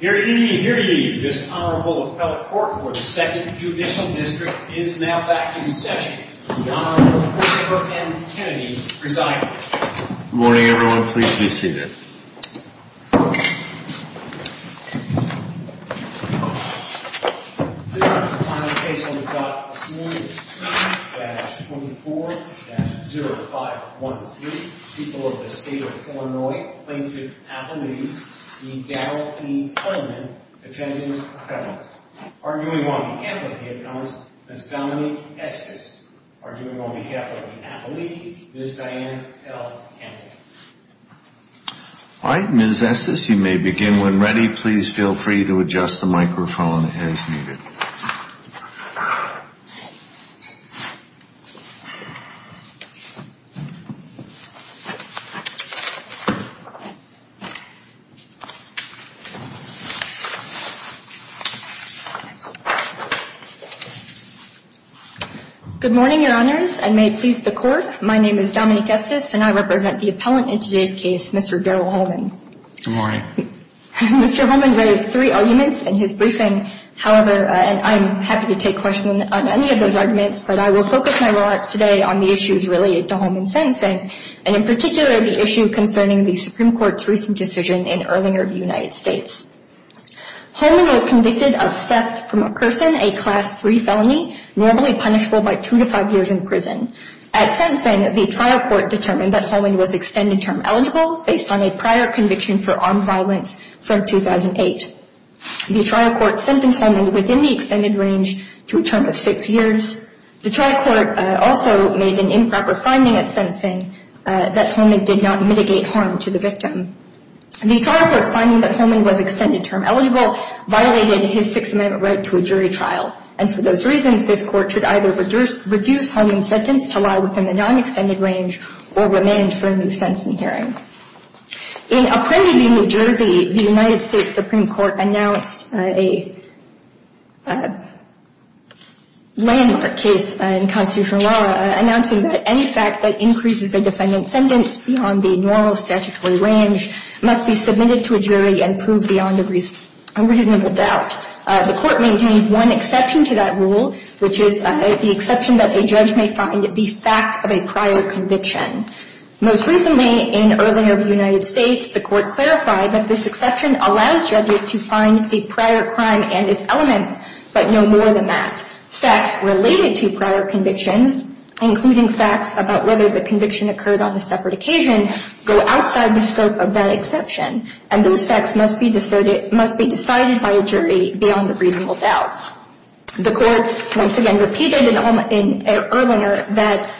This Honorable Appellate Court for the 2nd Judicial District is now back in session. The Honorable Porter M. Kennedy presiding. Good morning, everyone. Pleased to be seated. This is the final case we've got this morning. Case 3-24-0513. People of the State of Illinois plaintiff Appellate E. Daryl E. Holman defending her. Arguing on behalf of the Appellant, Ms. Dominique Estes. Arguing on behalf of the Appellate, Ms. Diane L. Kennedy. All right, Ms. Estes, you may begin when ready. Please feel free to adjust the microphone as needed. Good morning, Your Honors, and may it please the Court, my name is Dominique Estes and I represent the Appellant in today's case, Mr. Daryl Holman. Good morning. Mr. Holman raised three arguments in his briefing, however, and I'm happy to take questions on any of those arguments, but I will focus my remarks today on the issues related to Holman's sentencing, and in particular the issue concerning the Supreme Court's recent decision in Erlinger v. United States. Holman was convicted of theft from a person, a Class III felony, normally punishable by two to five years in prison. At sentencing, the trial court determined that Holman was extended term eligible based on a prior conviction for armed violence from 2008. The trial court sentenced Holman within the extended range to a term of six years. The trial court also made an improper finding at sentencing that Holman did not mitigate harm to the victim. The trial court's finding that Holman was extended term eligible violated his Sixth Amendment right to a jury trial, and for those reasons, this court should either reduce Holman's sentence to lie within the non-extended range or remand for a new sentencing hearing. In Apprendi v. New Jersey, the United States Supreme Court announced a landmark case in constitutional law announcing that any fact that increases a defendant's sentence beyond the normal statutory range must be submitted to a jury and proved beyond a reasonable doubt. The court maintained one exception to that rule, which is the exception that a judge may find the fact of a prior conviction. Most recently, in Earlinger v. United States, the court clarified that this exception allows judges to find the prior crime and its elements, but no more than that. Facts related to prior convictions, including facts about whether the conviction occurred on a separate occasion, go outside the scope of that exception, and those facts must be decided by a jury beyond a reasonable doubt. The court once again repeated in Earlinger that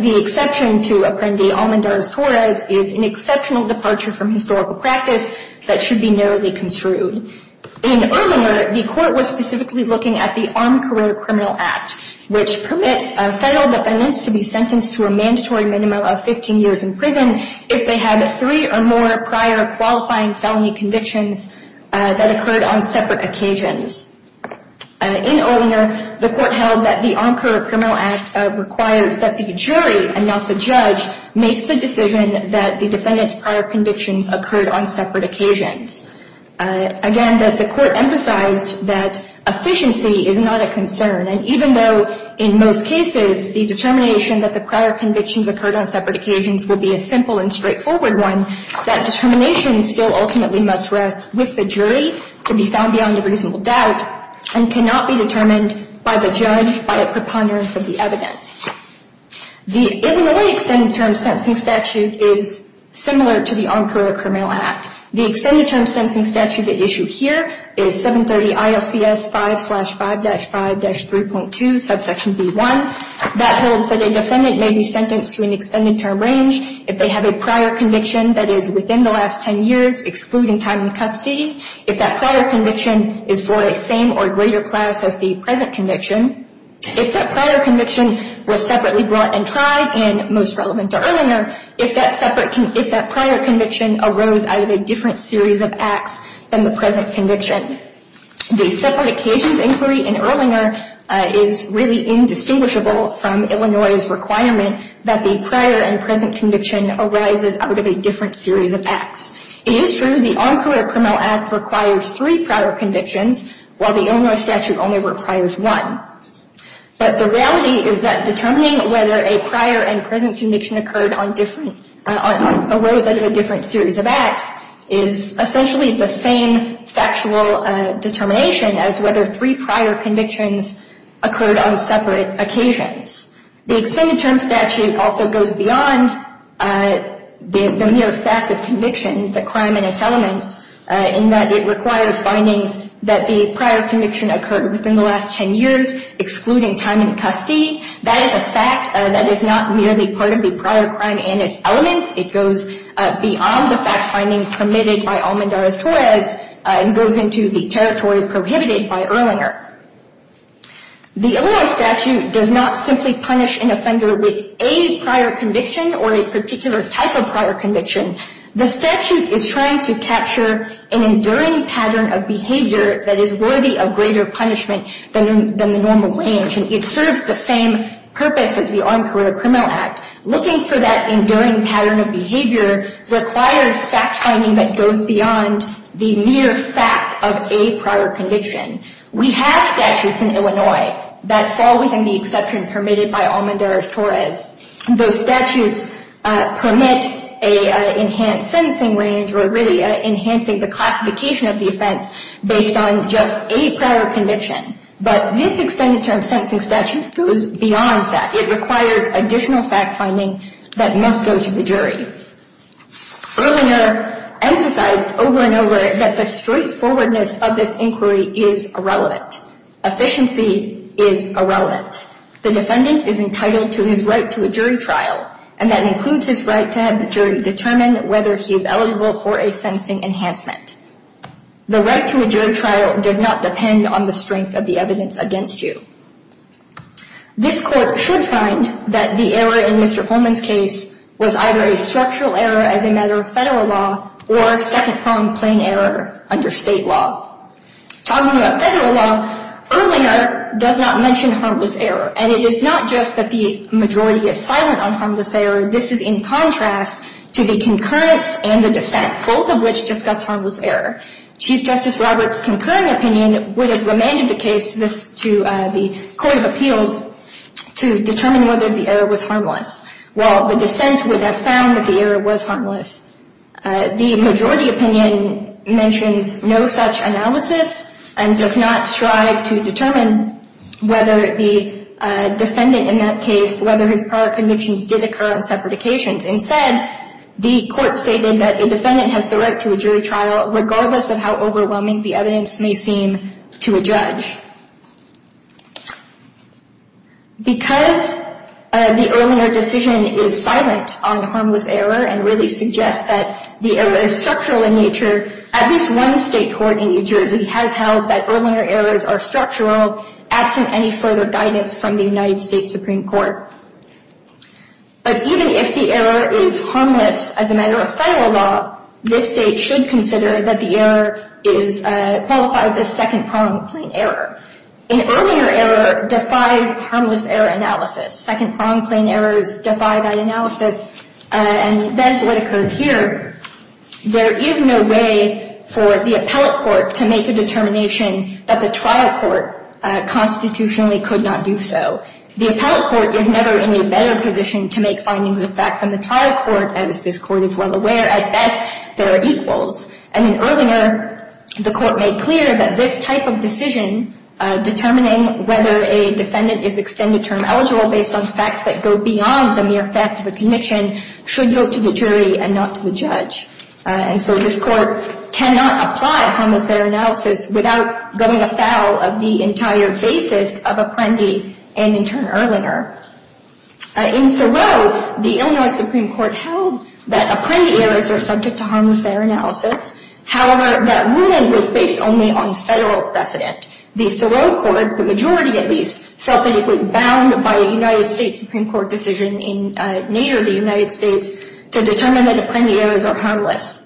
the exception to Apprendi v. Almendarez-Torres is an exceptional departure from historical practice that should be narrowly construed. In Earlinger, the court was specifically looking at the Armed Career Criminal Act, which permits federal defendants to be sentenced to a mandatory minimum of 15 years in prison if they had three or more prior qualifying felony convictions that occurred on separate occasions. In Earlinger, the court held that the Armed Career Criminal Act requires that the jury and not the judge make the decision that the defendant's prior convictions occurred on separate occasions. Again, the court emphasized that efficiency is not a concern, and even though in most cases the determination that the prior convictions occurred on separate occasions will be a simple and straightforward one, that determination still ultimately must rest with the jury to be found beyond a reasonable doubt and cannot be determined by the judge by a preponderance of the evidence. The Illinois extended term sentencing statute is similar to the Armed Career Criminal Act. The extended term sentencing statute at issue here is 730 ILCS 5-5-5-3.2, subsection B1. That holds that a defendant may be sentenced to an extended term range if they have a prior conviction that is within the last 10 years, excluding time in custody, if that prior conviction is for the same or greater class as the present conviction, if that prior conviction was separately brought and tried and most relevant to Erlinger, if that prior conviction arose out of a different series of acts than the present conviction. The separate occasions inquiry in Erlinger is really indistinguishable from Illinois' requirement that the prior and present conviction arises out of a different series of acts. It is true the Armed Career Criminal Act requires three prior convictions, while the Illinois statute only requires one. But the reality is that determining whether a prior and present conviction arose out of a different series of acts is essentially the same factual determination as whether three prior convictions occurred on separate occasions. The extended term statute also goes beyond the mere fact of conviction, the crime and its elements, in that it requires findings that the prior conviction occurred within the last 10 years, excluding time in custody. That is a fact that is not merely part of the prior crime and its elements. It goes beyond the fact finding permitted by Almendarez-Torres and goes into the territory prohibited by Erlinger. The Illinois statute does not simply punish an offender with a prior conviction or a particular type of prior conviction. The statute is trying to capture an enduring pattern of behavior that is worthy of greater punishment than the normal range, and it serves the same purpose as the Armed Career Criminal Act. Looking for that enduring pattern of behavior requires fact finding that goes beyond the mere fact of a prior conviction. We have statutes in Illinois that fall within the exception permitted by Almendarez-Torres. Those statutes permit an enhanced sentencing range, or really enhancing the classification of the offense based on just a prior conviction. But this extended term sentencing statute goes beyond that. It requires additional fact finding that must go to the jury. Erlinger emphasized over and over that the straightforwardness of this inquiry is irrelevant. Efficiency is irrelevant. The defendant is entitled to his right to a jury trial, and that includes his right to have the jury determine whether he is eligible for a sentencing enhancement. The right to a jury trial does not depend on the strength of the evidence against you. This court should find that the error in Mr. Holman's case was either a structural error as a matter of federal law or second-pronged plain error under state law. Talking about federal law, Erlinger does not mention harmless error. And it is not just that the majority is silent on harmless error. This is in contrast to the concurrence and the dissent, both of which discuss harmless error. Chief Justice Roberts' concurring opinion would have remanded the case to the court of appeals to determine whether the error was harmless, while the dissent would have found that the error was harmless. The majority opinion mentions no such analysis and does not strive to determine whether the defendant in that case, whether his prior convictions did occur on separate occasions. Instead, the court stated that the defendant has the right to a jury trial, regardless of how overwhelming the evidence may seem to a judge. Because the Erlinger decision is silent on harmless error and really suggests that the error is structural in nature, at least one state court in New Jersey has held that Erlinger errors are structural, absent any further guidance from the United States Supreme Court. But even if the error is harmless as a matter of federal law, this state should consider that the error qualifies as second-pronged plain error. An Erlinger error defies harmless error analysis. Second-pronged plain errors defy that analysis, and that is what occurs here. There is no way for the appellate court to make a determination that the trial court constitutionally could not do so. The appellate court is never in a better position to make findings of fact than the trial court, as this court is well aware. At best, there are equals. And in Erlinger, the court made clear that this type of decision, determining whether a defendant is extended term eligible based on facts that go beyond the mere fact of a conviction, should go to the jury and not to the judge. And so this court cannot apply harmless error analysis without going afoul of the entire basis of Apprendi and, in turn, Erlinger. In Thoreau, the Illinois Supreme Court held that Apprendi errors are subject to harmless error analysis. However, that ruling was based only on federal precedent. The Thoreau court, the majority at least, felt that it was bound by a United States Supreme Court decision in Nader, the United States, to determine that Apprendi errors are harmless.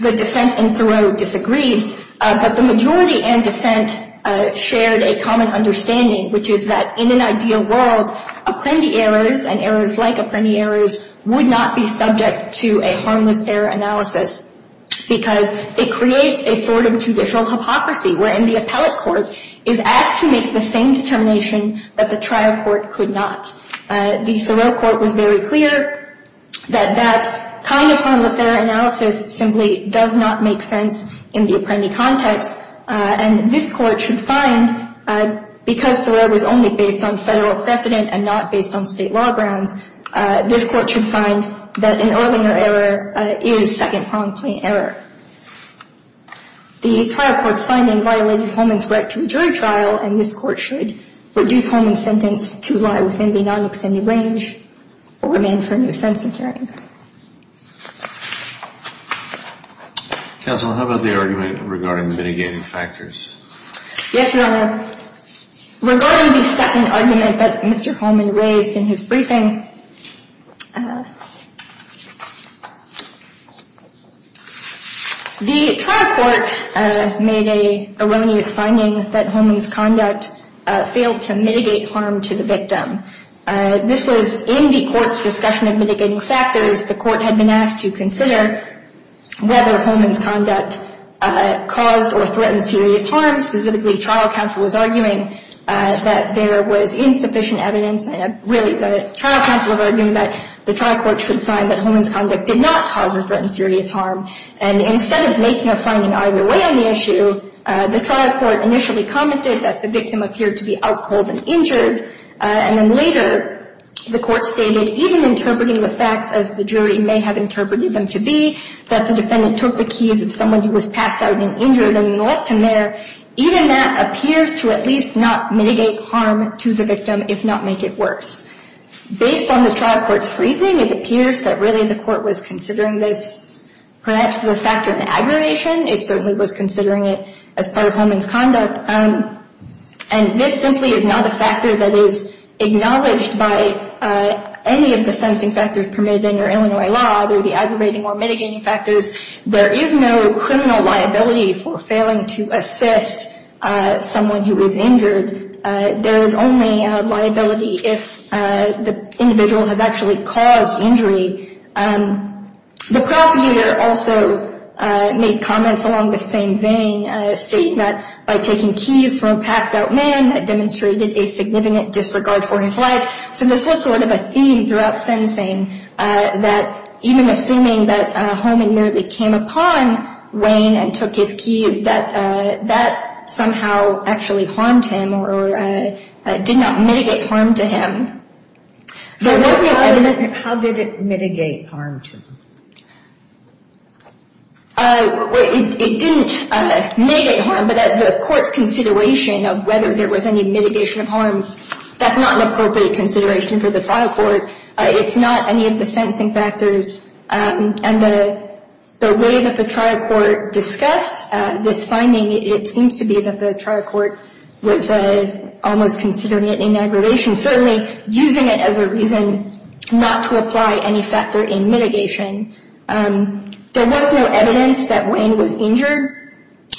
The dissent in Thoreau disagreed, but the majority and dissent shared a common understanding, which is that in an ideal world, Apprendi errors and errors like Apprendi errors would not be subject to a harmless error analysis because it creates a sort of traditional hypocrisy, wherein the appellate court is asked to make the same determination that the trial court could not. The Thoreau court was very clear that that kind of harmless error analysis simply does not make sense in the Apprendi context. And this court should find, because Thoreau was only based on federal precedent and not based on state law grounds, this court should find that an Erlinger error is second-pronged plain error. The trial court's finding violated Holman's right to a jury trial, and this court should reduce Holman's sentence to lie within the non-extended range or remain for a new sentencing hearing. Counsel, how about the argument regarding mitigating factors? Yes, Your Honor. Regarding the second argument that Mr. Holman raised in his briefing, the trial court made an erroneous finding that Holman's conduct failed to mitigate harm to the victim. This was in the court's discussion of mitigating factors. The court had been asked to consider whether Holman's conduct caused or threatened serious harm. Specifically, trial counsel was arguing that there was insufficient evidence, and really the trial counsel was arguing that the trial court should find that Holman's conduct did not cause or threaten serious harm. And instead of making a finding either way on the issue, the trial court initially commented that the victim appeared to be out cold and injured. And then later, the court stated, even interpreting the facts as the jury may have interpreted them to be, that the defendant took the keys of someone who was passed out and injured and left him there, even that appears to at least not mitigate harm to the victim, if not make it worse. Based on the trial court's freezing, it appears that really the court was considering this perhaps as a factor in aggravation. It certainly was considering it as part of Holman's conduct. And this simply is not a factor that is acknowledged by any of the sensing factors permitted under Illinois law, either the aggravating or mitigating factors. There is no criminal liability for failing to assist someone who was injured. There is only liability if the individual has actually caused injury. The prosecutor also made comments along the same vein, stating that by taking keys from a passed-out man, that demonstrated a significant disregard for his life. So this was sort of a theme throughout sensing, that even assuming that Holman merely came upon Wayne and took his keys, that that somehow actually harmed him or did not mitigate harm to him. How did it mitigate harm to him? It didn't mitigate harm, but the court's consideration of whether there was any mitigation of harm, that's not an appropriate consideration for the trial court. It's not any of the sensing factors. And the way that the trial court discussed this finding, it seems to be that the trial court was almost considering it in aggravation, and certainly using it as a reason not to apply any factor in mitigation. There was no evidence that Wayne was injured.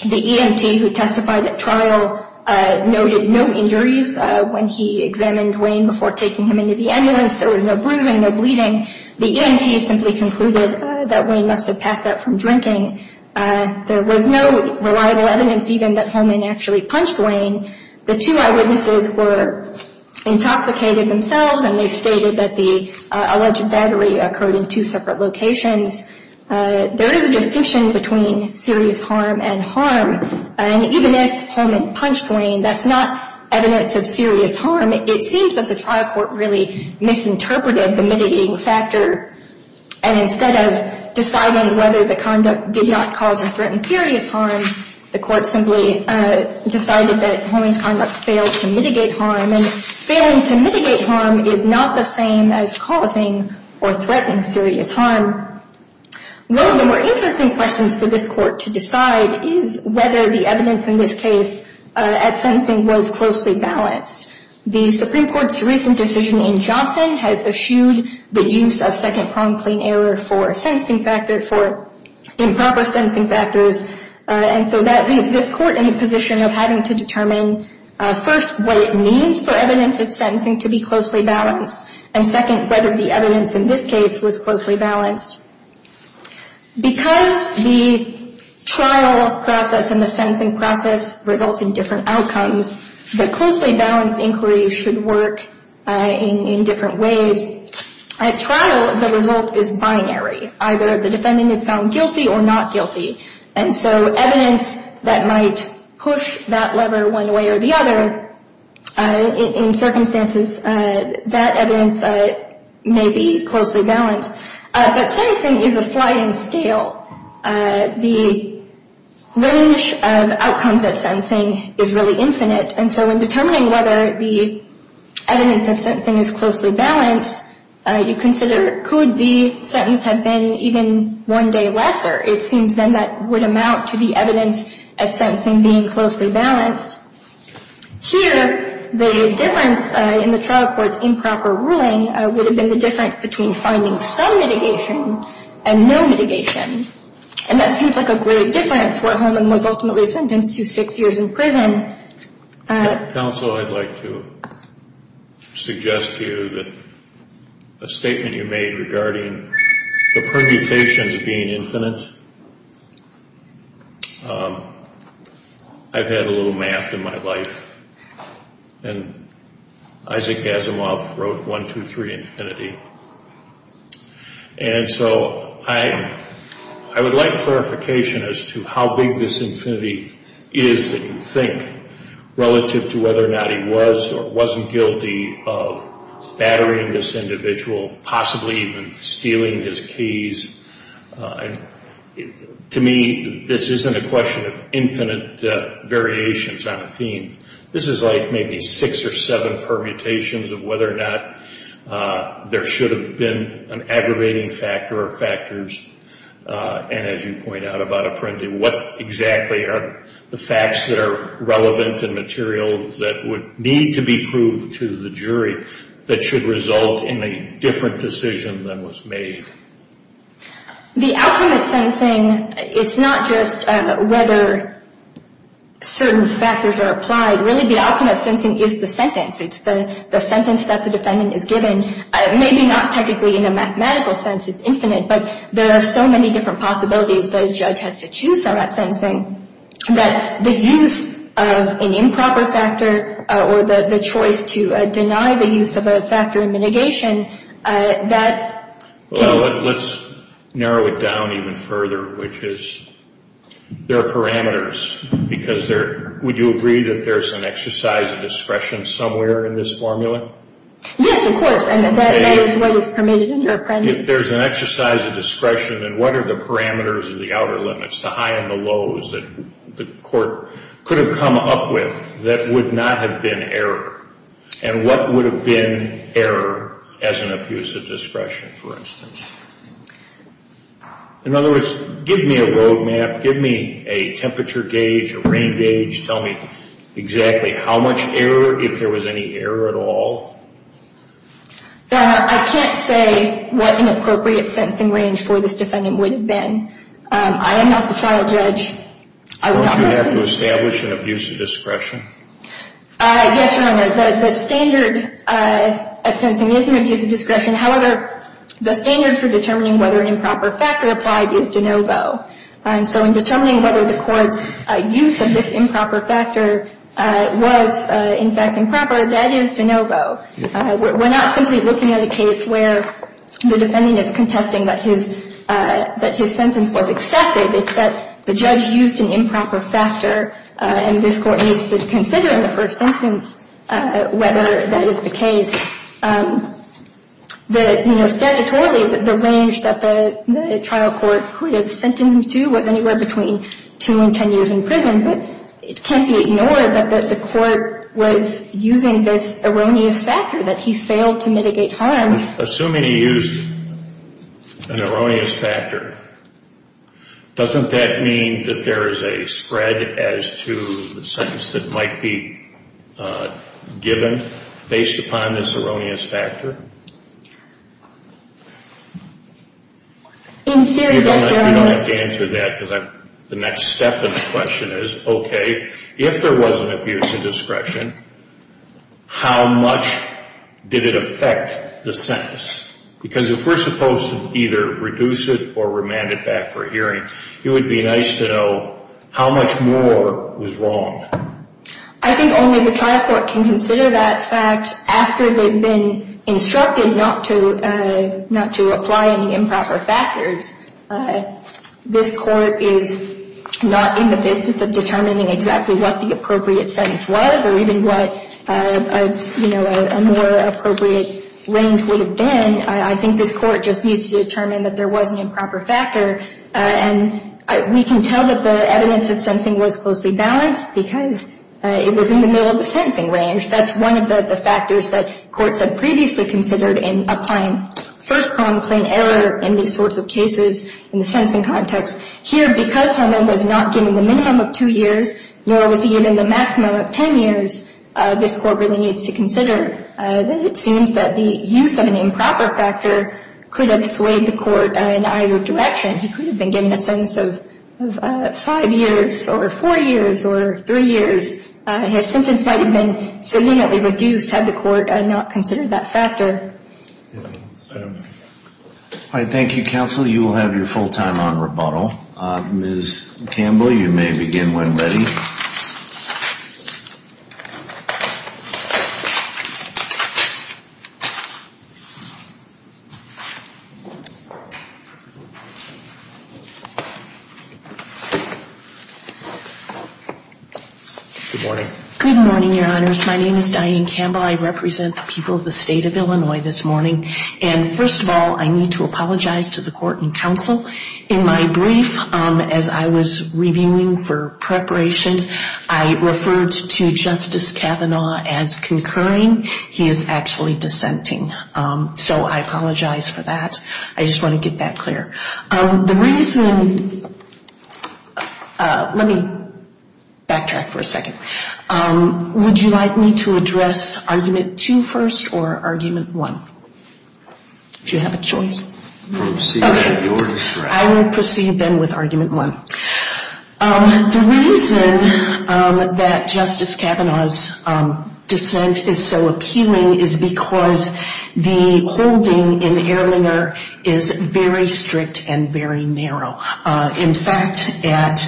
The EMT who testified at trial noted no injuries when he examined Wayne before taking him into the ambulance. There was no bruising, no bleeding. The EMT simply concluded that Wayne must have passed out from drinking. There was no reliable evidence even that Holman actually punched Wayne. The two eyewitnesses were intoxicated themselves, and they stated that the alleged battery occurred in two separate locations. There is a distinction between serious harm and harm. And even if Holman punched Wayne, that's not evidence of serious harm. It seems that the trial court really misinterpreted the mitigating factor. And instead of deciding whether the conduct did not cause or threaten serious harm, the court simply decided that Holman's conduct failed to mitigate harm. And failing to mitigate harm is not the same as causing or threatening serious harm. One of the more interesting questions for this court to decide is whether the evidence in this case at sentencing was closely balanced. The Supreme Court's recent decision in Johnson has eschewed the use of second-prong plane error for improper sentencing factors. And so that leaves this court in the position of having to determine, first, what it means for evidence at sentencing to be closely balanced, and, second, whether the evidence in this case was closely balanced. Because the trial process and the sentencing process result in different outcomes, the closely balanced inquiry should work in different ways. At trial, the result is binary. Either the defendant is found guilty or not guilty. And so evidence that might push that lever one way or the other, in circumstances, that evidence may be closely balanced. But sentencing is a sliding scale. The range of outcomes at sentencing is really infinite. And so in determining whether the evidence at sentencing is closely balanced, you consider could the sentence have been even one day lesser. It seems then that would amount to the evidence at sentencing being closely balanced. Here, the difference in the trial court's improper ruling would have been the difference between finding some mitigation and no mitigation. And that seems like a great difference, where Holman was ultimately sentenced to six years in prison. Counsel, I'd like to suggest to you that a statement you made regarding the permutations being infinite, I've had a little math in my life, and Isaac Asimov wrote 1, 2, 3, infinity. And so I would like clarification as to how big this infinity is that you think relative to whether or not he was or wasn't guilty of battering this individual, possibly even stealing his keys. To me, this isn't a question of infinite variations on a theme. This is like maybe six or seven permutations of whether or not there should have been an aggravating factor or factors. And as you point out about Apprendi, what exactly are the facts that are relevant and materials that would need to be proved to the jury that should result in a different decision than was made? The outcome at sentencing, it's not just whether certain factors are applied. Really, the outcome at sentencing is the sentence. It's the sentence that the defendant is given. Maybe not technically in a mathematical sense, it's infinite, but there are so many different possibilities the judge has to choose from at sentencing that the use of an improper factor or the choice to deny the use of a factor in mitigation, Well, let's narrow it down even further, which is there are parameters. Would you agree that there's an exercise of discretion somewhere in this formula? Yes, of course, and that is what is permitted under Apprendi. If there's an exercise of discretion, then what are the parameters or the outer limits, the highs and the lows that the court could have come up with that would not have been error? And what would have been error as an abuse of discretion, for instance? In other words, give me a road map. Give me a temperature gauge, a rain gauge. Tell me exactly how much error, if there was any error at all. I can't say what an appropriate sentencing range for this defendant would have been. I am not the trial judge. Don't you have to establish an abuse of discretion? Yes, Your Honor. The standard at sentencing is an abuse of discretion. However, the standard for determining whether an improper factor applied is de novo. And so in determining whether the court's use of this improper factor was, in fact, improper, that is de novo. We're not simply looking at a case where the defendant is contesting that his sentence was excessive. It's that the judge used an improper factor, and this court needs to consider in the first instance whether that is the case. Statutorily, the range that the trial court could have sentenced him to was anywhere between 2 and 10 years in prison. But it can't be ignored that the court was using this erroneous factor, that he failed to mitigate harm. Assuming he used an erroneous factor, doesn't that mean that there is a spread as to the sentence that might be given based upon this erroneous factor? In theory, yes, Your Honor. I don't have to answer that because the next step in the question is, okay, if there was an abuse of discretion, how much did it affect the sentence? Because if we're supposed to either reduce it or remand it back for hearing, it would be nice to know how much more was wrong. I think only the trial court can consider that fact after they've been instructed not to apply any improper factors. This court is not in the business of determining exactly what the appropriate sentence was or even what, you know, a more appropriate range would have been. I think this court just needs to determine that there was an improper factor. And we can tell that the evidence of sentencing was closely balanced because it was in the middle of the sentencing range. That's one of the factors that courts had previously considered in applying first-prong plain error in these sorts of cases in the sentencing context. Here, because harm was not given the minimum of 2 years, nor was he given the maximum of 10 years, this court really needs to consider that it seems that the use of an improper factor could have swayed the court in either direction. He could have been given a sentence of 5 years or 4 years or 3 years. His sentence might have been significantly reduced had the court not considered that factor. All right, thank you, counsel. You will have your full time on rebuttal. Ms. Campbell, you may begin when ready. Good morning. Good morning, your honors. My name is Diane Campbell. I represent the people of the state of Illinois this morning. And first of all, I need to apologize to the court and counsel. In my brief, as I was reviewing for preparation, I referred to Justice Kavanaugh as concurring. He is actually dissenting. So I apologize for that. I just want to get that clear. The reason – let me backtrack for a second. Would you like me to address argument two first or argument one? Do you have a choice? I will proceed then with argument one. The reason that Justice Kavanaugh's dissent is so appealing is because the holding in Ehrlinger is very strict and very narrow. In fact, at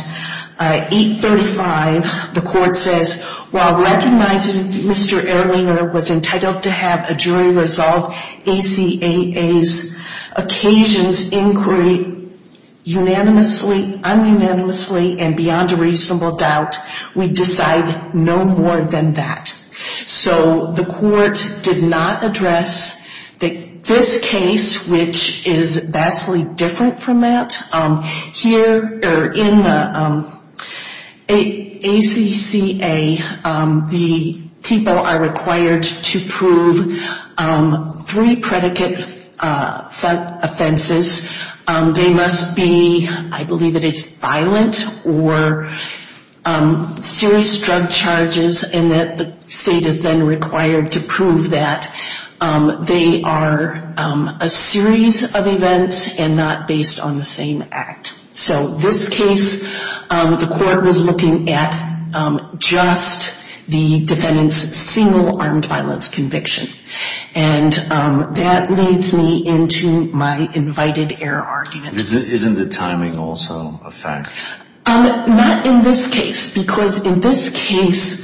835, the court says, while recognizing Mr. Ehrlinger was entitled to have a jury resolve ACAA's occasions inquiry unanimously, un-unanimously, and beyond a reasonable doubt, we decide no more than that. So the court did not address this case, which is vastly different from that. Here in ACAA, the people are required to prove three predicate offenses. They must be, I believe that it's violent or serious drug charges, and that the state is then required to prove that they are a series of events and not based on the same act. So this case, the court was looking at just the defendant's single armed violence conviction. And that leads me into my invited error argument. Isn't the timing also a fact? Not in this case, because in this case,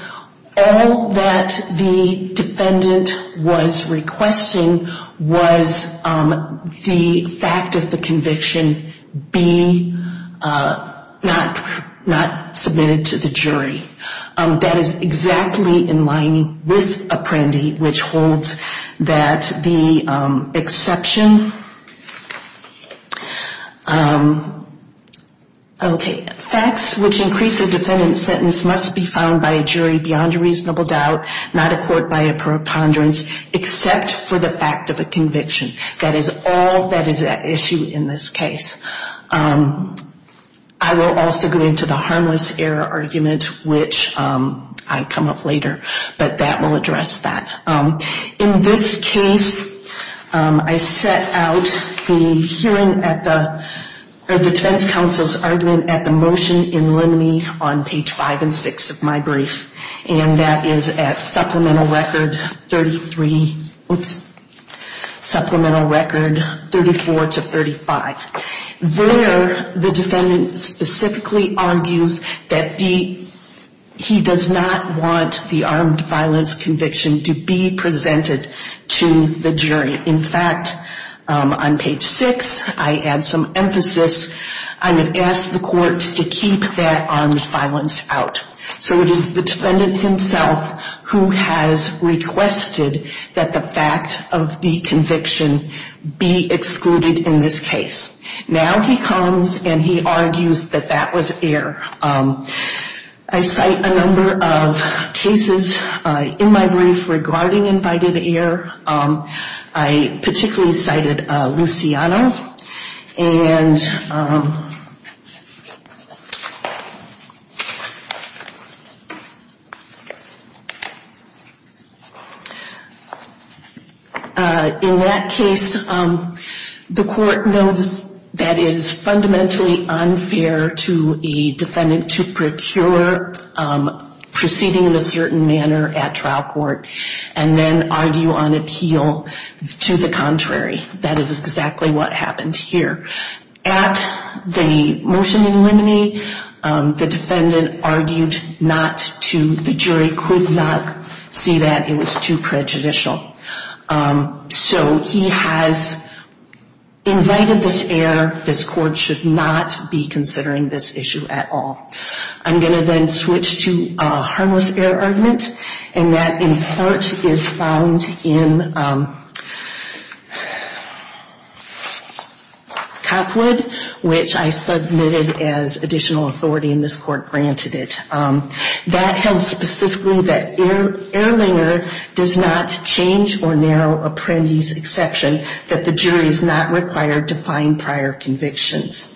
all that the defendant was requesting was the fact of the conviction be not submitted to the jury. That is exactly in line with Apprendi, which holds that the exception, okay, facts which increase a defendant's sentence must be found by a jury beyond a reasonable doubt, not a court by a preponderance, except for the fact of a conviction. That is all that is at issue in this case. I will also go into the harmless error argument, which I come up later. But that will address that. In this case, I set out the hearing at the defense counsel's argument at the motion in limine on page 5 and 6 of my brief. And that is at supplemental record 34 to 35. There, the defendant specifically argues that he does not want the armed violence conviction to be presented to the jury. In fact, on page 6, I add some emphasis. I would ask the court to keep that armed violence out. So it is the defendant himself who has requested that the fact of the conviction be excluded in this case. Now he comes and he argues that that was error. I cite a number of cases in my brief regarding invited error. I particularly cited Luciano. And in that case, the court knows that it is fundamentally unfair to a defendant to procure proceeding in a certain manner at trial court and then argue on appeal to the contrary. That is exactly what happened here. At the motion in limine, the defendant argued not to the jury, could not see that it was too prejudicial. So he has invited this error. This court should not be considering this issue at all. I'm going to then switch to a harmless error argument. And that in part is found in Cockwood, which I submitted as additional authority and this court granted it. That held specifically that Ehrlinger does not change or narrow apprentice exception, that the jury is not required to find prior convictions.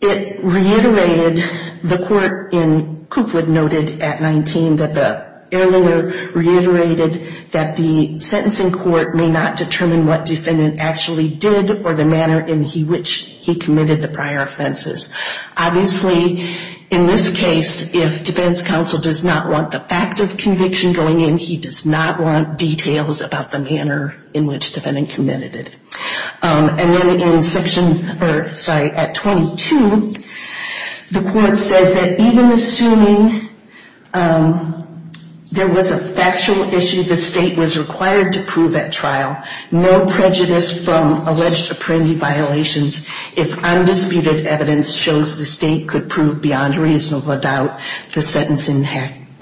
It reiterated, the court in Cockwood noted at 19 that the Ehrlinger reiterated that the sentencing court may not determine what defendant actually did or the manner in which he committed the prior offenses. Obviously, in this case, if defense counsel does not want the fact of conviction going in, he does not want details about the manner in which defendant committed it. And then in section, sorry, at 22, the court says that even assuming there was a factual issue the state was required to prove at trial, no prejudice from alleged apprendee violations if undisputed evidence shows the state could prove beyond reasonable doubt the sentencing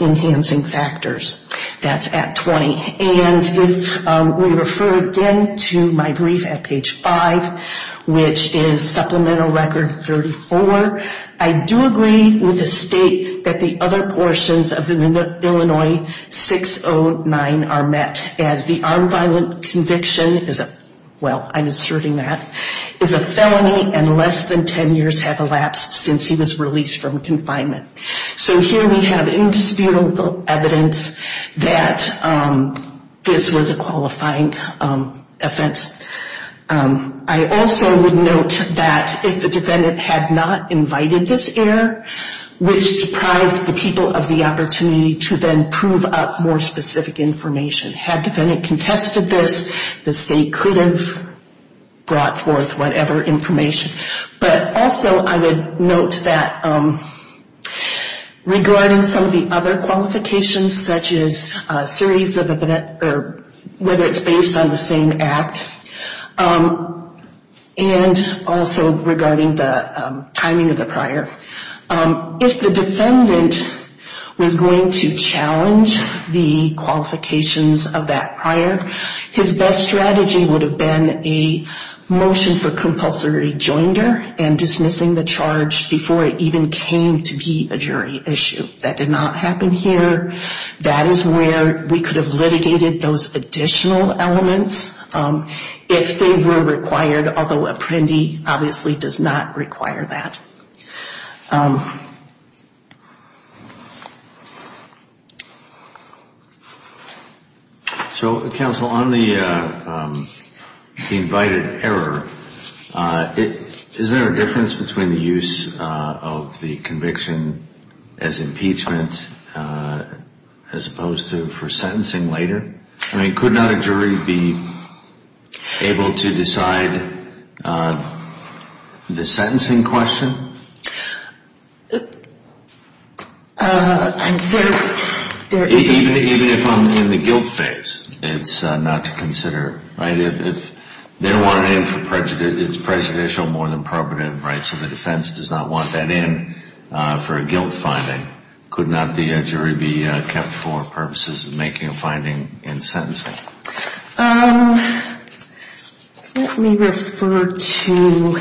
enhancing factors. That's at 20. And if we refer again to my brief at page 5, which is supplemental record 34, I do agree with the state that the other portions of the Illinois 609 are met as the armed violent conviction is a, well, I'm asserting that, is a felony and less than 10 years have elapsed since he was released from confinement. So here we have indisputable evidence that this was a qualifying offense. I also would note that if the defendant had not invited this error, which deprived the people of the opportunity to then prove up more specific information. Had defendant contested this, the state could have brought forth whatever information. But also I would note that regarding some of the other qualifications, such as series of, or whether it's based on the same act, and also regarding the timing of the prior. If the defendant was going to challenge the qualifications of that prior, his best strategy would have been a motion for compulsory joinder and dismissing the charge before it even came to be a jury issue. That did not happen here. That is where we could have litigated those additional elements if they were required, although Apprendi obviously does not require that. So counsel, on the invited error, is there a difference between the use of the conviction as impeachment as opposed to for sentencing later? I mean, could not a jury be able to decide the sentencing question? Even if I'm in the guilt phase, it's not to consider, right? If they don't want it in for prejudice, it's prejudicial more than probative, right? So the defense does not want that in for a guilt finding. Could not the jury be kept for purposes of making a finding in sentencing? Let me refer to...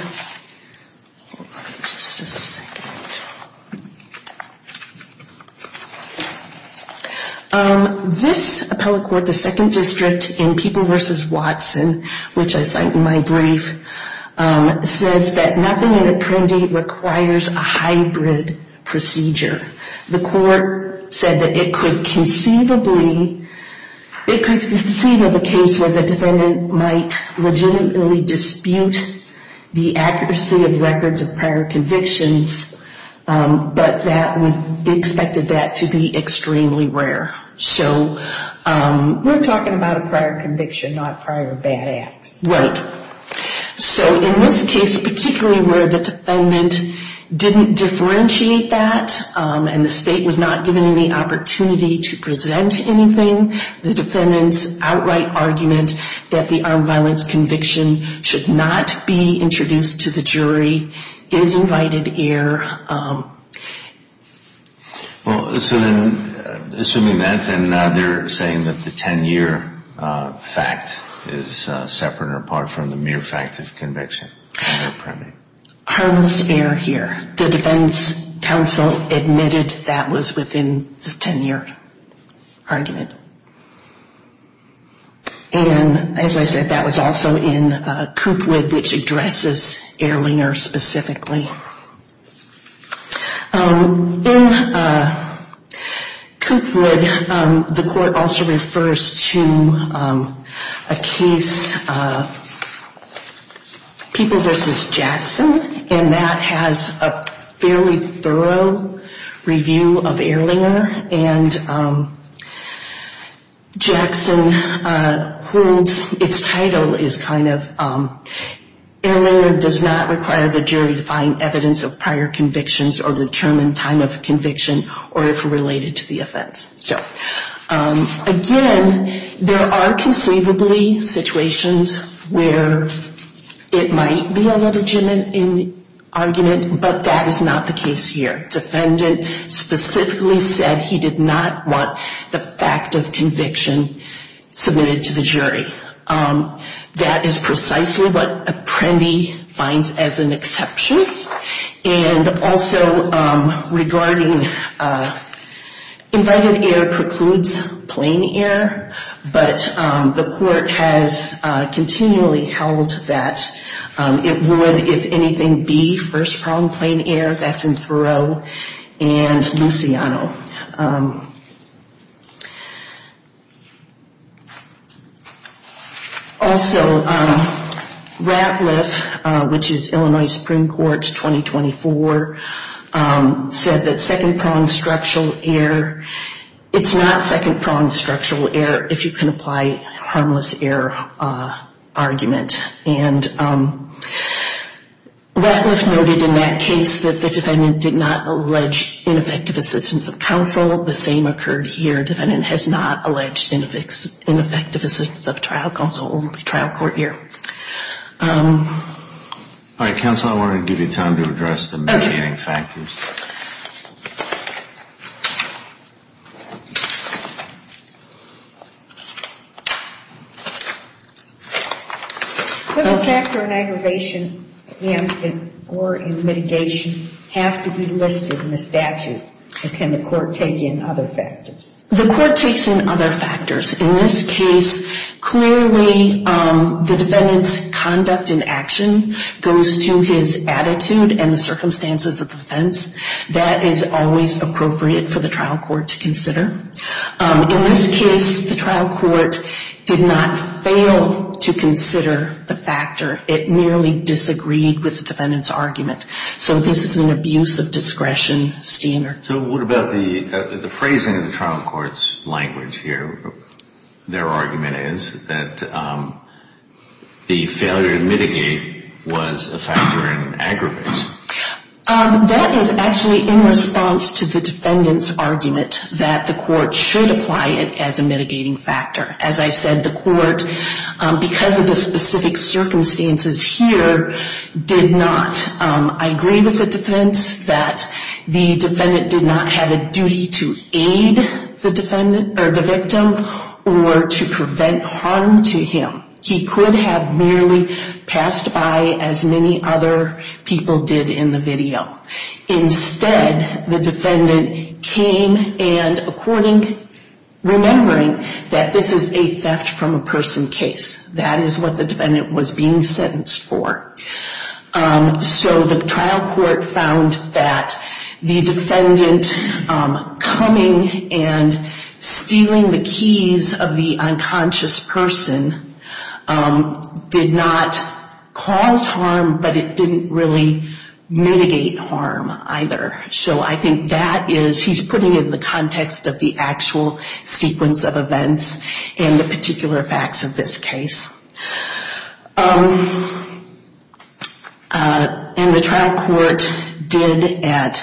This appellate court, the 2nd District in People v. Watson, which I cite in my brief, says that nothing in Apprendi requires a hybrid procedure. The court said that it could conceivably... It could conceive of a case where the defendant might legitimately dispute the accuracy of records of prior convictions, but that would be expected to be extremely rare. So... We're talking about a prior conviction, not prior bad acts. Right. So in this case, particularly where the defendant didn't differentiate that, and the state was not given any opportunity to present anything, the defendant's outright argument that the armed violence conviction should not be introduced to the jury is invited here. Well, so then, assuming that, then they're saying that the 10-year fact is separate or apart from the mere fact of conviction in Apprendi. Harmless error here. The defense counsel admitted that was within the 10-year argument. And, as I said, that was also in Coopwood, which addresses Ehrlinger specifically. In Coopwood, the court also refers to a case, People v. Jackson, and that has a fairly thorough review of Ehrlinger. And Jackson holds... Its title is kind of, Ehrlinger does not require the jury to find evidence of prior convictions or determine time of conviction or if related to the offense. So, again, there are conceivably situations where it might be a legitimate argument, but that is not the case here. The defendant specifically said he did not want the fact of conviction submitted to the jury. That is precisely what Apprendi finds as an exception. And also, regarding invited error precludes plain error, but the court has continually held that it would, if anything, be first-pronged plain error. That's in Faroe and Luciano. Also, Ratliff, which is Illinois Supreme Court, 2024, said that second-pronged structural error... It's not second-pronged structural error if you can apply harmless error argument. And Ratliff noted in that case that the defendant did not allege ineffective assistance of counsel. The same occurred here. Defendant has not alleged ineffective assistance of trial counsel, only trial court here. All right, counsel, I wanted to give you time to address the mitigating factors. Does a factor in aggravation or in mitigation have to be listed in the statute, or can the court take in other factors? The court takes in other factors. In this case, clearly the defendant's conduct in action goes to his attitude and the circumstances of the offense. That is always appropriate for the trial court to consider. In this case, the trial court did not fail to consider the factor. It merely disagreed with the defendant's argument. So this is an abuse of discretion standard. So what about the phrasing of the trial court's language here? Their argument is that the failure to mitigate was a factor in aggravation. That is actually in response to the defendant's argument that the court should apply it as a mitigating factor. As I said, the court, because of the specific circumstances here, did not. I agree with the defense that the defendant did not have a duty to aid the victim or to prevent harm to him. He could have merely passed by as many other people did in the video. Instead, the defendant came and according, remembering that this is a theft from a person case. That is what the defendant was being sentenced for. So the trial court found that the defendant coming and stealing the keys of the unconscious person did not cause harm, but it didn't really mitigate harm either. So I think that is, he's putting it in the context of the actual sequence of events and the particular facts of this case. And the trial court did at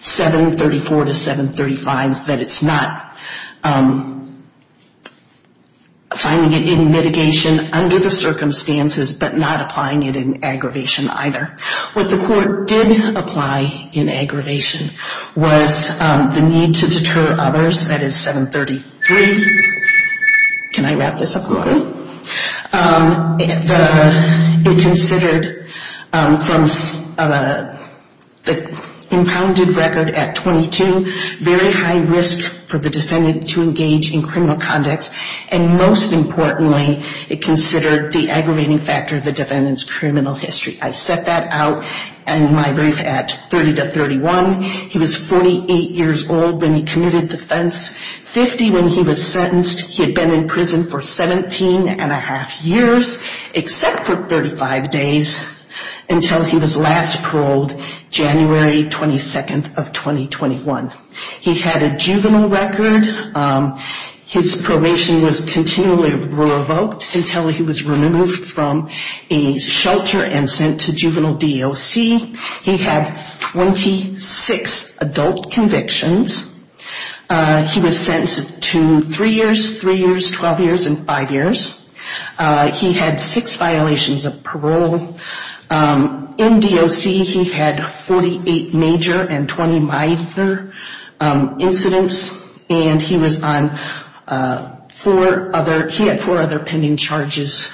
734 to 735s that it's not finding it in mitigation under the circumstances, but not applying it in aggravation either. What the court did apply in aggravation was the need to deter others. That is 733. Can I wrap this up? It considered from the impounded record at 22, very high risk for the defendant to engage in criminal conduct. And most importantly, it considered the aggravating factor of the defendant's criminal history. I set that out in my brief at 30 to 31. He was 48 years old when he committed the offense. 50 when he was sentenced. He had been in prison for 17 and a half years, except for 35 days, until he was last paroled January 22nd of 2021. He had a juvenile record. His probation was continually revoked until he was removed from a shelter and sent to juvenile DOC. He had 26 adult convictions. He was sentenced to three years, three years, 12 years, and five years. He had six violations of parole. In DOC, he had 48 major and 20 minor incidents. And he was on four other, he had four other pending charges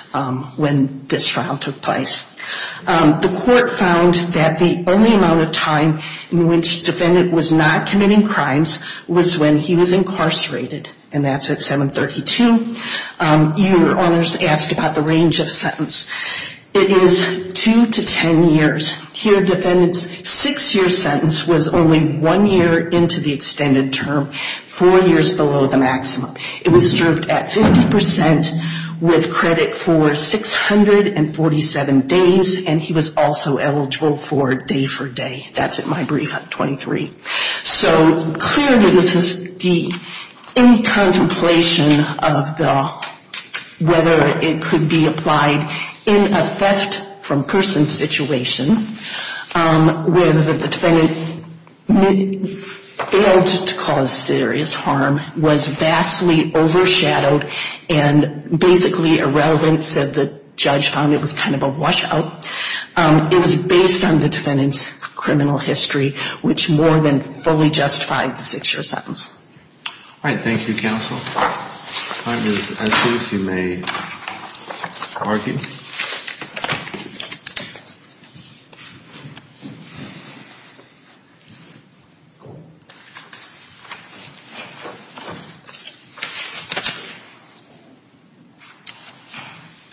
when this trial took place. The court found that the only amount of time in which the defendant was not committing crimes was when he was incarcerated. And that's at 732. Your Honors asked about the range of sentence. It is two to 10 years. Here, defendant's six-year sentence was only one year into the extended term, four years below the maximum. It was served at 50% with credit for 647 days. And he was also eligible for day-for-day. That's at my brief at 23. So clearly this is the, any contemplation of the, whether it could be applied in a theft-from-person situation, where the defendant failed to cause serious harm, was vastly overshadowed, and basically irrelevance of the judge found it was kind of a washout. It was based on the defendant's criminal history, which more than fully justified the six-year sentence. All right. Thank you, counsel. Congress, as soon as you may argue.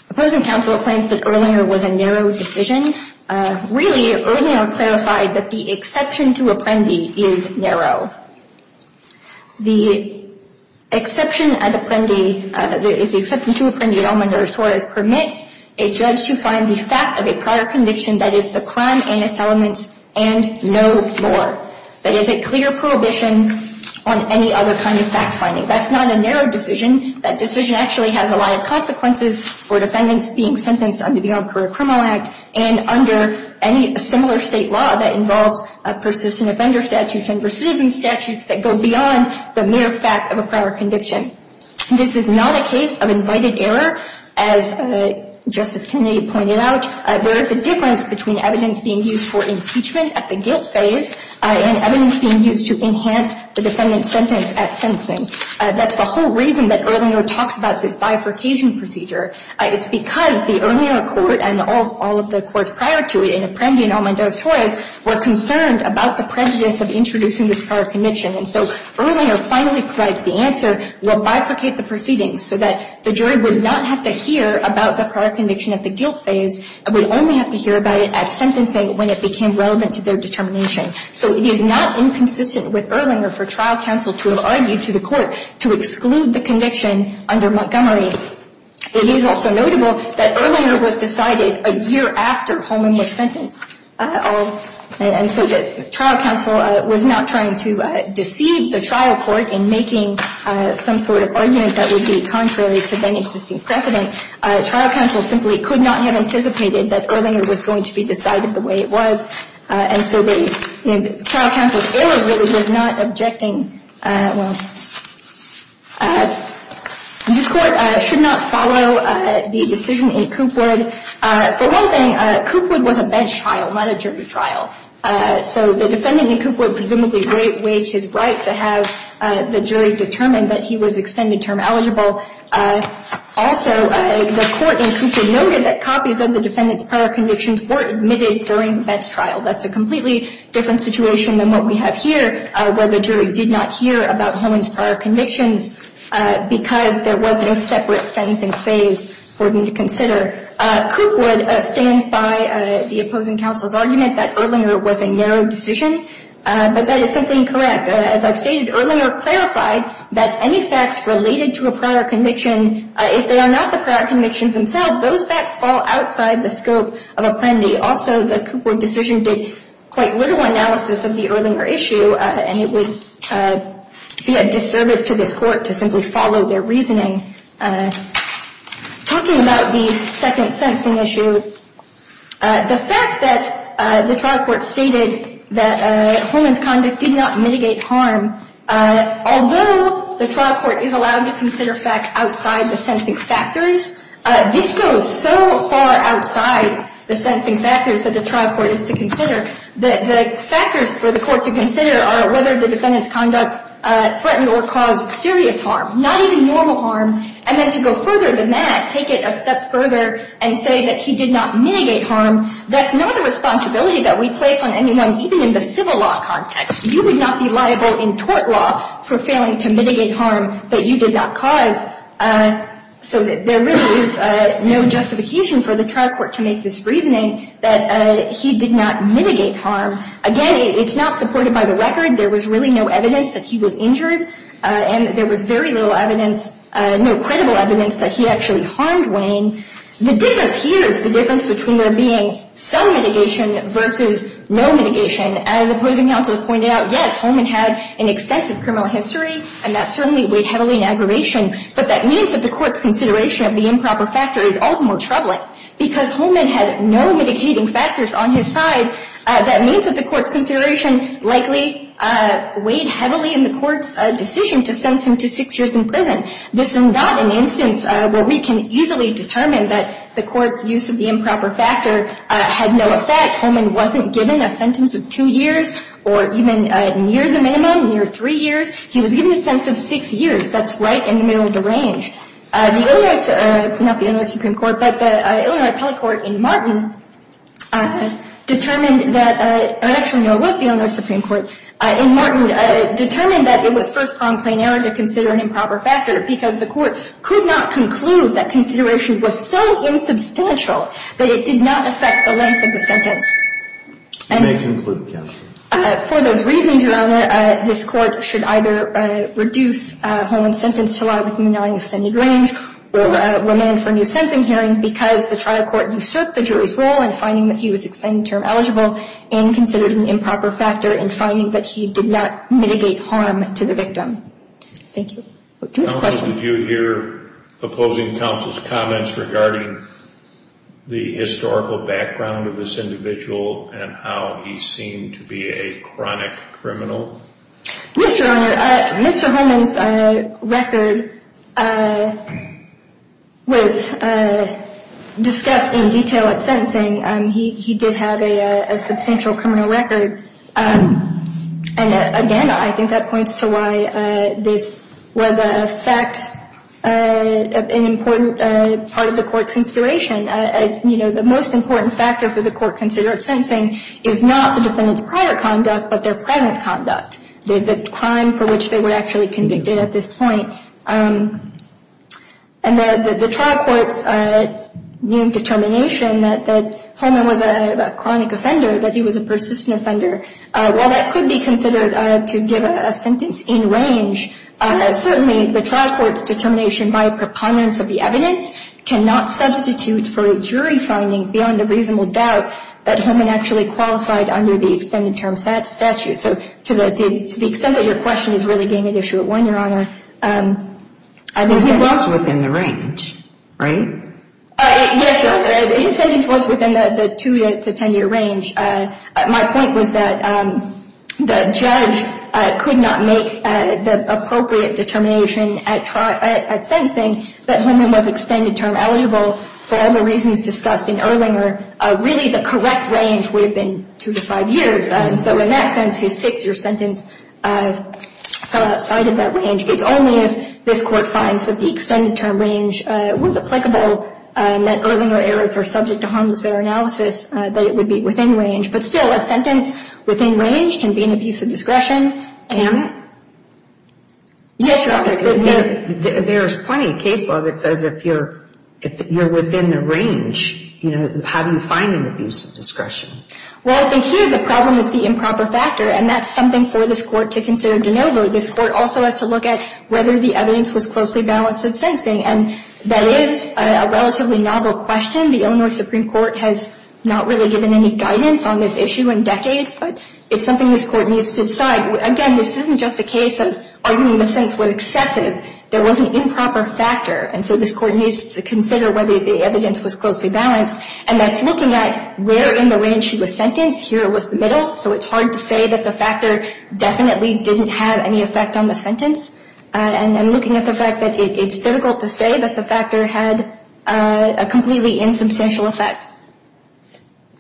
Opposing counsel claims that Erlinger was a narrow decision. Really, Erlinger clarified that the exception to Apprendi is narrow. The exception at Apprendi, the exception to Apprendi, Elmendorf, Suarez, permits a judge to find the fact of a prior conviction, that is, the crime and its elements, and no more. That is a clear prohibition on any other kind of fact-finding. That's not a narrow decision. That decision actually has a lot of consequences for defendants being sentenced under the Armed Career Criminal Act and under any similar state law that involves persistent offender statutes and persistent statutes that go beyond the mere fact of a prior conviction. This is not a case of invited error. As Justice Kennedy pointed out, there is a difference between evidence being used for impeachment at the guilt phase and evidence being used to enhance the defendant's sentence at sentencing. That's the whole reason that Erlinger talks about this bifurcation procedure. It's because the Erlinger court and all of the courts prior to it, Apprendi and Elmendorf, Suarez, were concerned about the prejudice of introducing this prior conviction. And so Erlinger finally provides the answer, we'll bifurcate the proceedings so that the jury would not have to hear about the prior conviction at the guilt phase and would only have to hear about it at sentencing when it became relevant to their determination. So it is not inconsistent with Erlinger for trial counsel to have argued to the court to exclude the conviction under Montgomery. It is also notable that Erlinger was decided a year after Holman was sentenced. And so that trial counsel was not trying to deceive the trial court in making some sort of argument that would be contrary to then existing precedent. Trial counsel simply could not have anticipated that Erlinger was going to be decided the way it was. And so the trial counsel's error really was not objecting. This court should not follow the decision in Coopwood. For one thing, Coopwood was a bench trial, not a jury trial. So the defendant in Coopwood presumably waived his right to have the jury determine that he was extended term eligible. Also, the court in Coopwood noted that copies of the defendant's prior convictions were admitted during the bench trial. That's a completely different situation than what we have here where the jury did not hear about Holman's prior convictions because there was no separate sentencing phase for them to consider. Coopwood stands by the opposing counsel's argument that Erlinger was a narrow decision. But that is something correct. As I've stated, Erlinger clarified that any facts related to a prior conviction, if they are not the prior convictions themselves, those facts fall outside the scope of a plendy. Also, the Coopwood decision did quite little analysis of the Erlinger issue, and it would be a disservice to this court to simply follow their reasoning. Talking about the second sentencing issue, the fact that the trial court stated that Holman's conduct did not mitigate harm, although the trial court is allowed to consider facts outside the sentencing factors, this goes so far outside the sentencing factors that the trial court is to consider. The factors for the court to consider are whether the defendant's conduct threatened or caused serious harm, not even normal harm. And then to go further than that, take it a step further and say that he did not mitigate harm, that's not a responsibility that we place on anyone, even in the civil law context. You would not be liable in tort law for failing to mitigate harm that you did not cause. So there really is no justification for the trial court to make this reasoning that he did not mitigate harm. Again, it's not supported by the record. There was really no evidence that he was injured, and there was very little evidence, no credible evidence that he actually harmed Wayne. The difference here is the difference between there being some mitigation versus no mitigation. As opposing counsel pointed out, yes, Holman had an extensive criminal history, and that certainly weighed heavily in aggravation, but that means that the court's consideration of the improper factor is all the more troubling. Because Holman had no mitigating factors on his side, that means that the court's consideration likely weighed heavily in the court's decision to sentence him to six years in prison. This is not an instance where we can easily determine that the court's use of the improper factor had no effect. Holman wasn't given a sentence of two years or even near the minimum, near three years. He was given a sentence of six years. That's right in the middle of the range. The Illinois — not the Illinois Supreme Court, but the Illinois Appellate Court in Martin determined that — or actually, no, it was the Illinois Supreme Court in Martin — determined that it was first-pronged plain error to consider an improper factor because the court could not conclude that consideration was so insubstantial that it did not affect the length of the sentence. And — You may conclude, counsel. For those reasons, Your Honor, this court should either reduce Holman's sentence to allow the Illinois extended range or remand for a new sentencing hearing because the trial court usurped the jury's rule in finding that he was extended-term eligible and considered an improper factor in finding that he did not mitigate harm to the victim. Thank you. Counsel, did you hear opposing counsel's comments regarding the historical background of this individual and how he seemed to be a chronic criminal? Yes, Your Honor. Mr. Holman's record was discussed in detail at sentencing. He did have a substantial criminal record. And, again, I think that points to why this was an important part of the court's consideration. You know, the most important factor for the court considered at sentencing is not the defendant's prior conduct but their present conduct, the crime for which they were actually convicted at this point. And the trial court's new determination that Holman was a chronic offender, that he was a persistent offender, while that could be considered to give a sentence in range, certainly the trial court's determination by a preponderance of the evidence cannot substitute for a jury finding beyond a reasonable doubt that Holman actually qualified under the extended-term statute. So to the extent that your question is really getting at issue at one, Your Honor, I think that he was. But he was within the range, right? Yes, Your Honor. His sentence was within the 2- to 10-year range. My point was that the judge could not make the appropriate determination at sentencing that Holman was extended-term eligible for all the reasons discussed in Erlinger. Really, the correct range would have been 2 to 5 years. And so in that sense, his 6-year sentence fell outside of that range. It's only if this Court finds that the extended-term range was applicable, that Erlinger errors are subject to harmless error analysis, that it would be within range. But still, a sentence within range can be an abuse of discretion. Can it? Yes, Your Honor. There's plenty of case law that says if you're within the range, how do you find an abuse of discretion? Well, in here, the problem is the improper factor, and that's something for this Court to consider de novo. This Court also has to look at whether the evidence was closely balanced at sensing. And that is a relatively novel question. The Illinois Supreme Court has not really given any guidance on this issue in decades, but it's something this Court needs to decide. Again, this isn't just a case of arguing the sentence was excessive. There was an improper factor, and so this Court needs to consider whether the evidence was closely balanced. And that's looking at where in the range she was sentenced. Here was the middle. So it's hard to say that the factor definitely didn't have any effect on the sentence. And I'm looking at the fact that it's difficult to say that the factor had a completely insubstantial effect.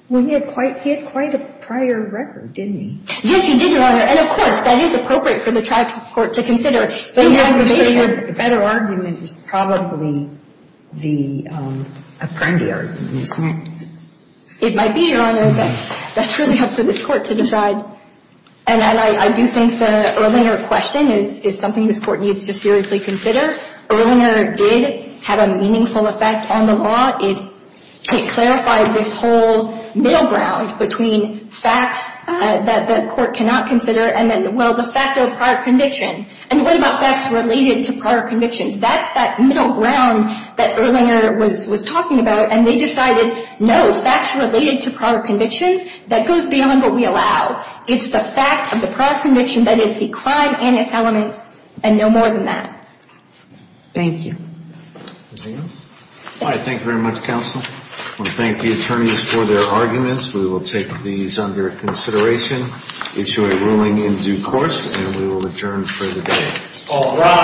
Well, he had quite a prior record, didn't he? Yes, he did, Your Honor. And, of course, that is appropriate for the tribe court to consider. So the better argument is probably the Apprendi argument, isn't it? It might be, Your Honor. That's really up for this Court to decide. And I do think the Erlinger question is something this Court needs to seriously consider. Erlinger did have a meaningful effect on the law. It clarified this whole middle ground between facts that the Court cannot consider and, well, the fact of prior conviction. And what about facts related to prior convictions? That's that middle ground that Erlinger was talking about, and they decided, no, the facts related to prior convictions, that goes beyond what we allow. It's the fact of the prior conviction that is the crime and its elements, and no more than that. Thank you. Anything else? All right, thank you very much, Counsel. I want to thank the attorneys for their arguments. We will take these under consideration. Issue a ruling in due course, and we will adjourn for the day. All rise.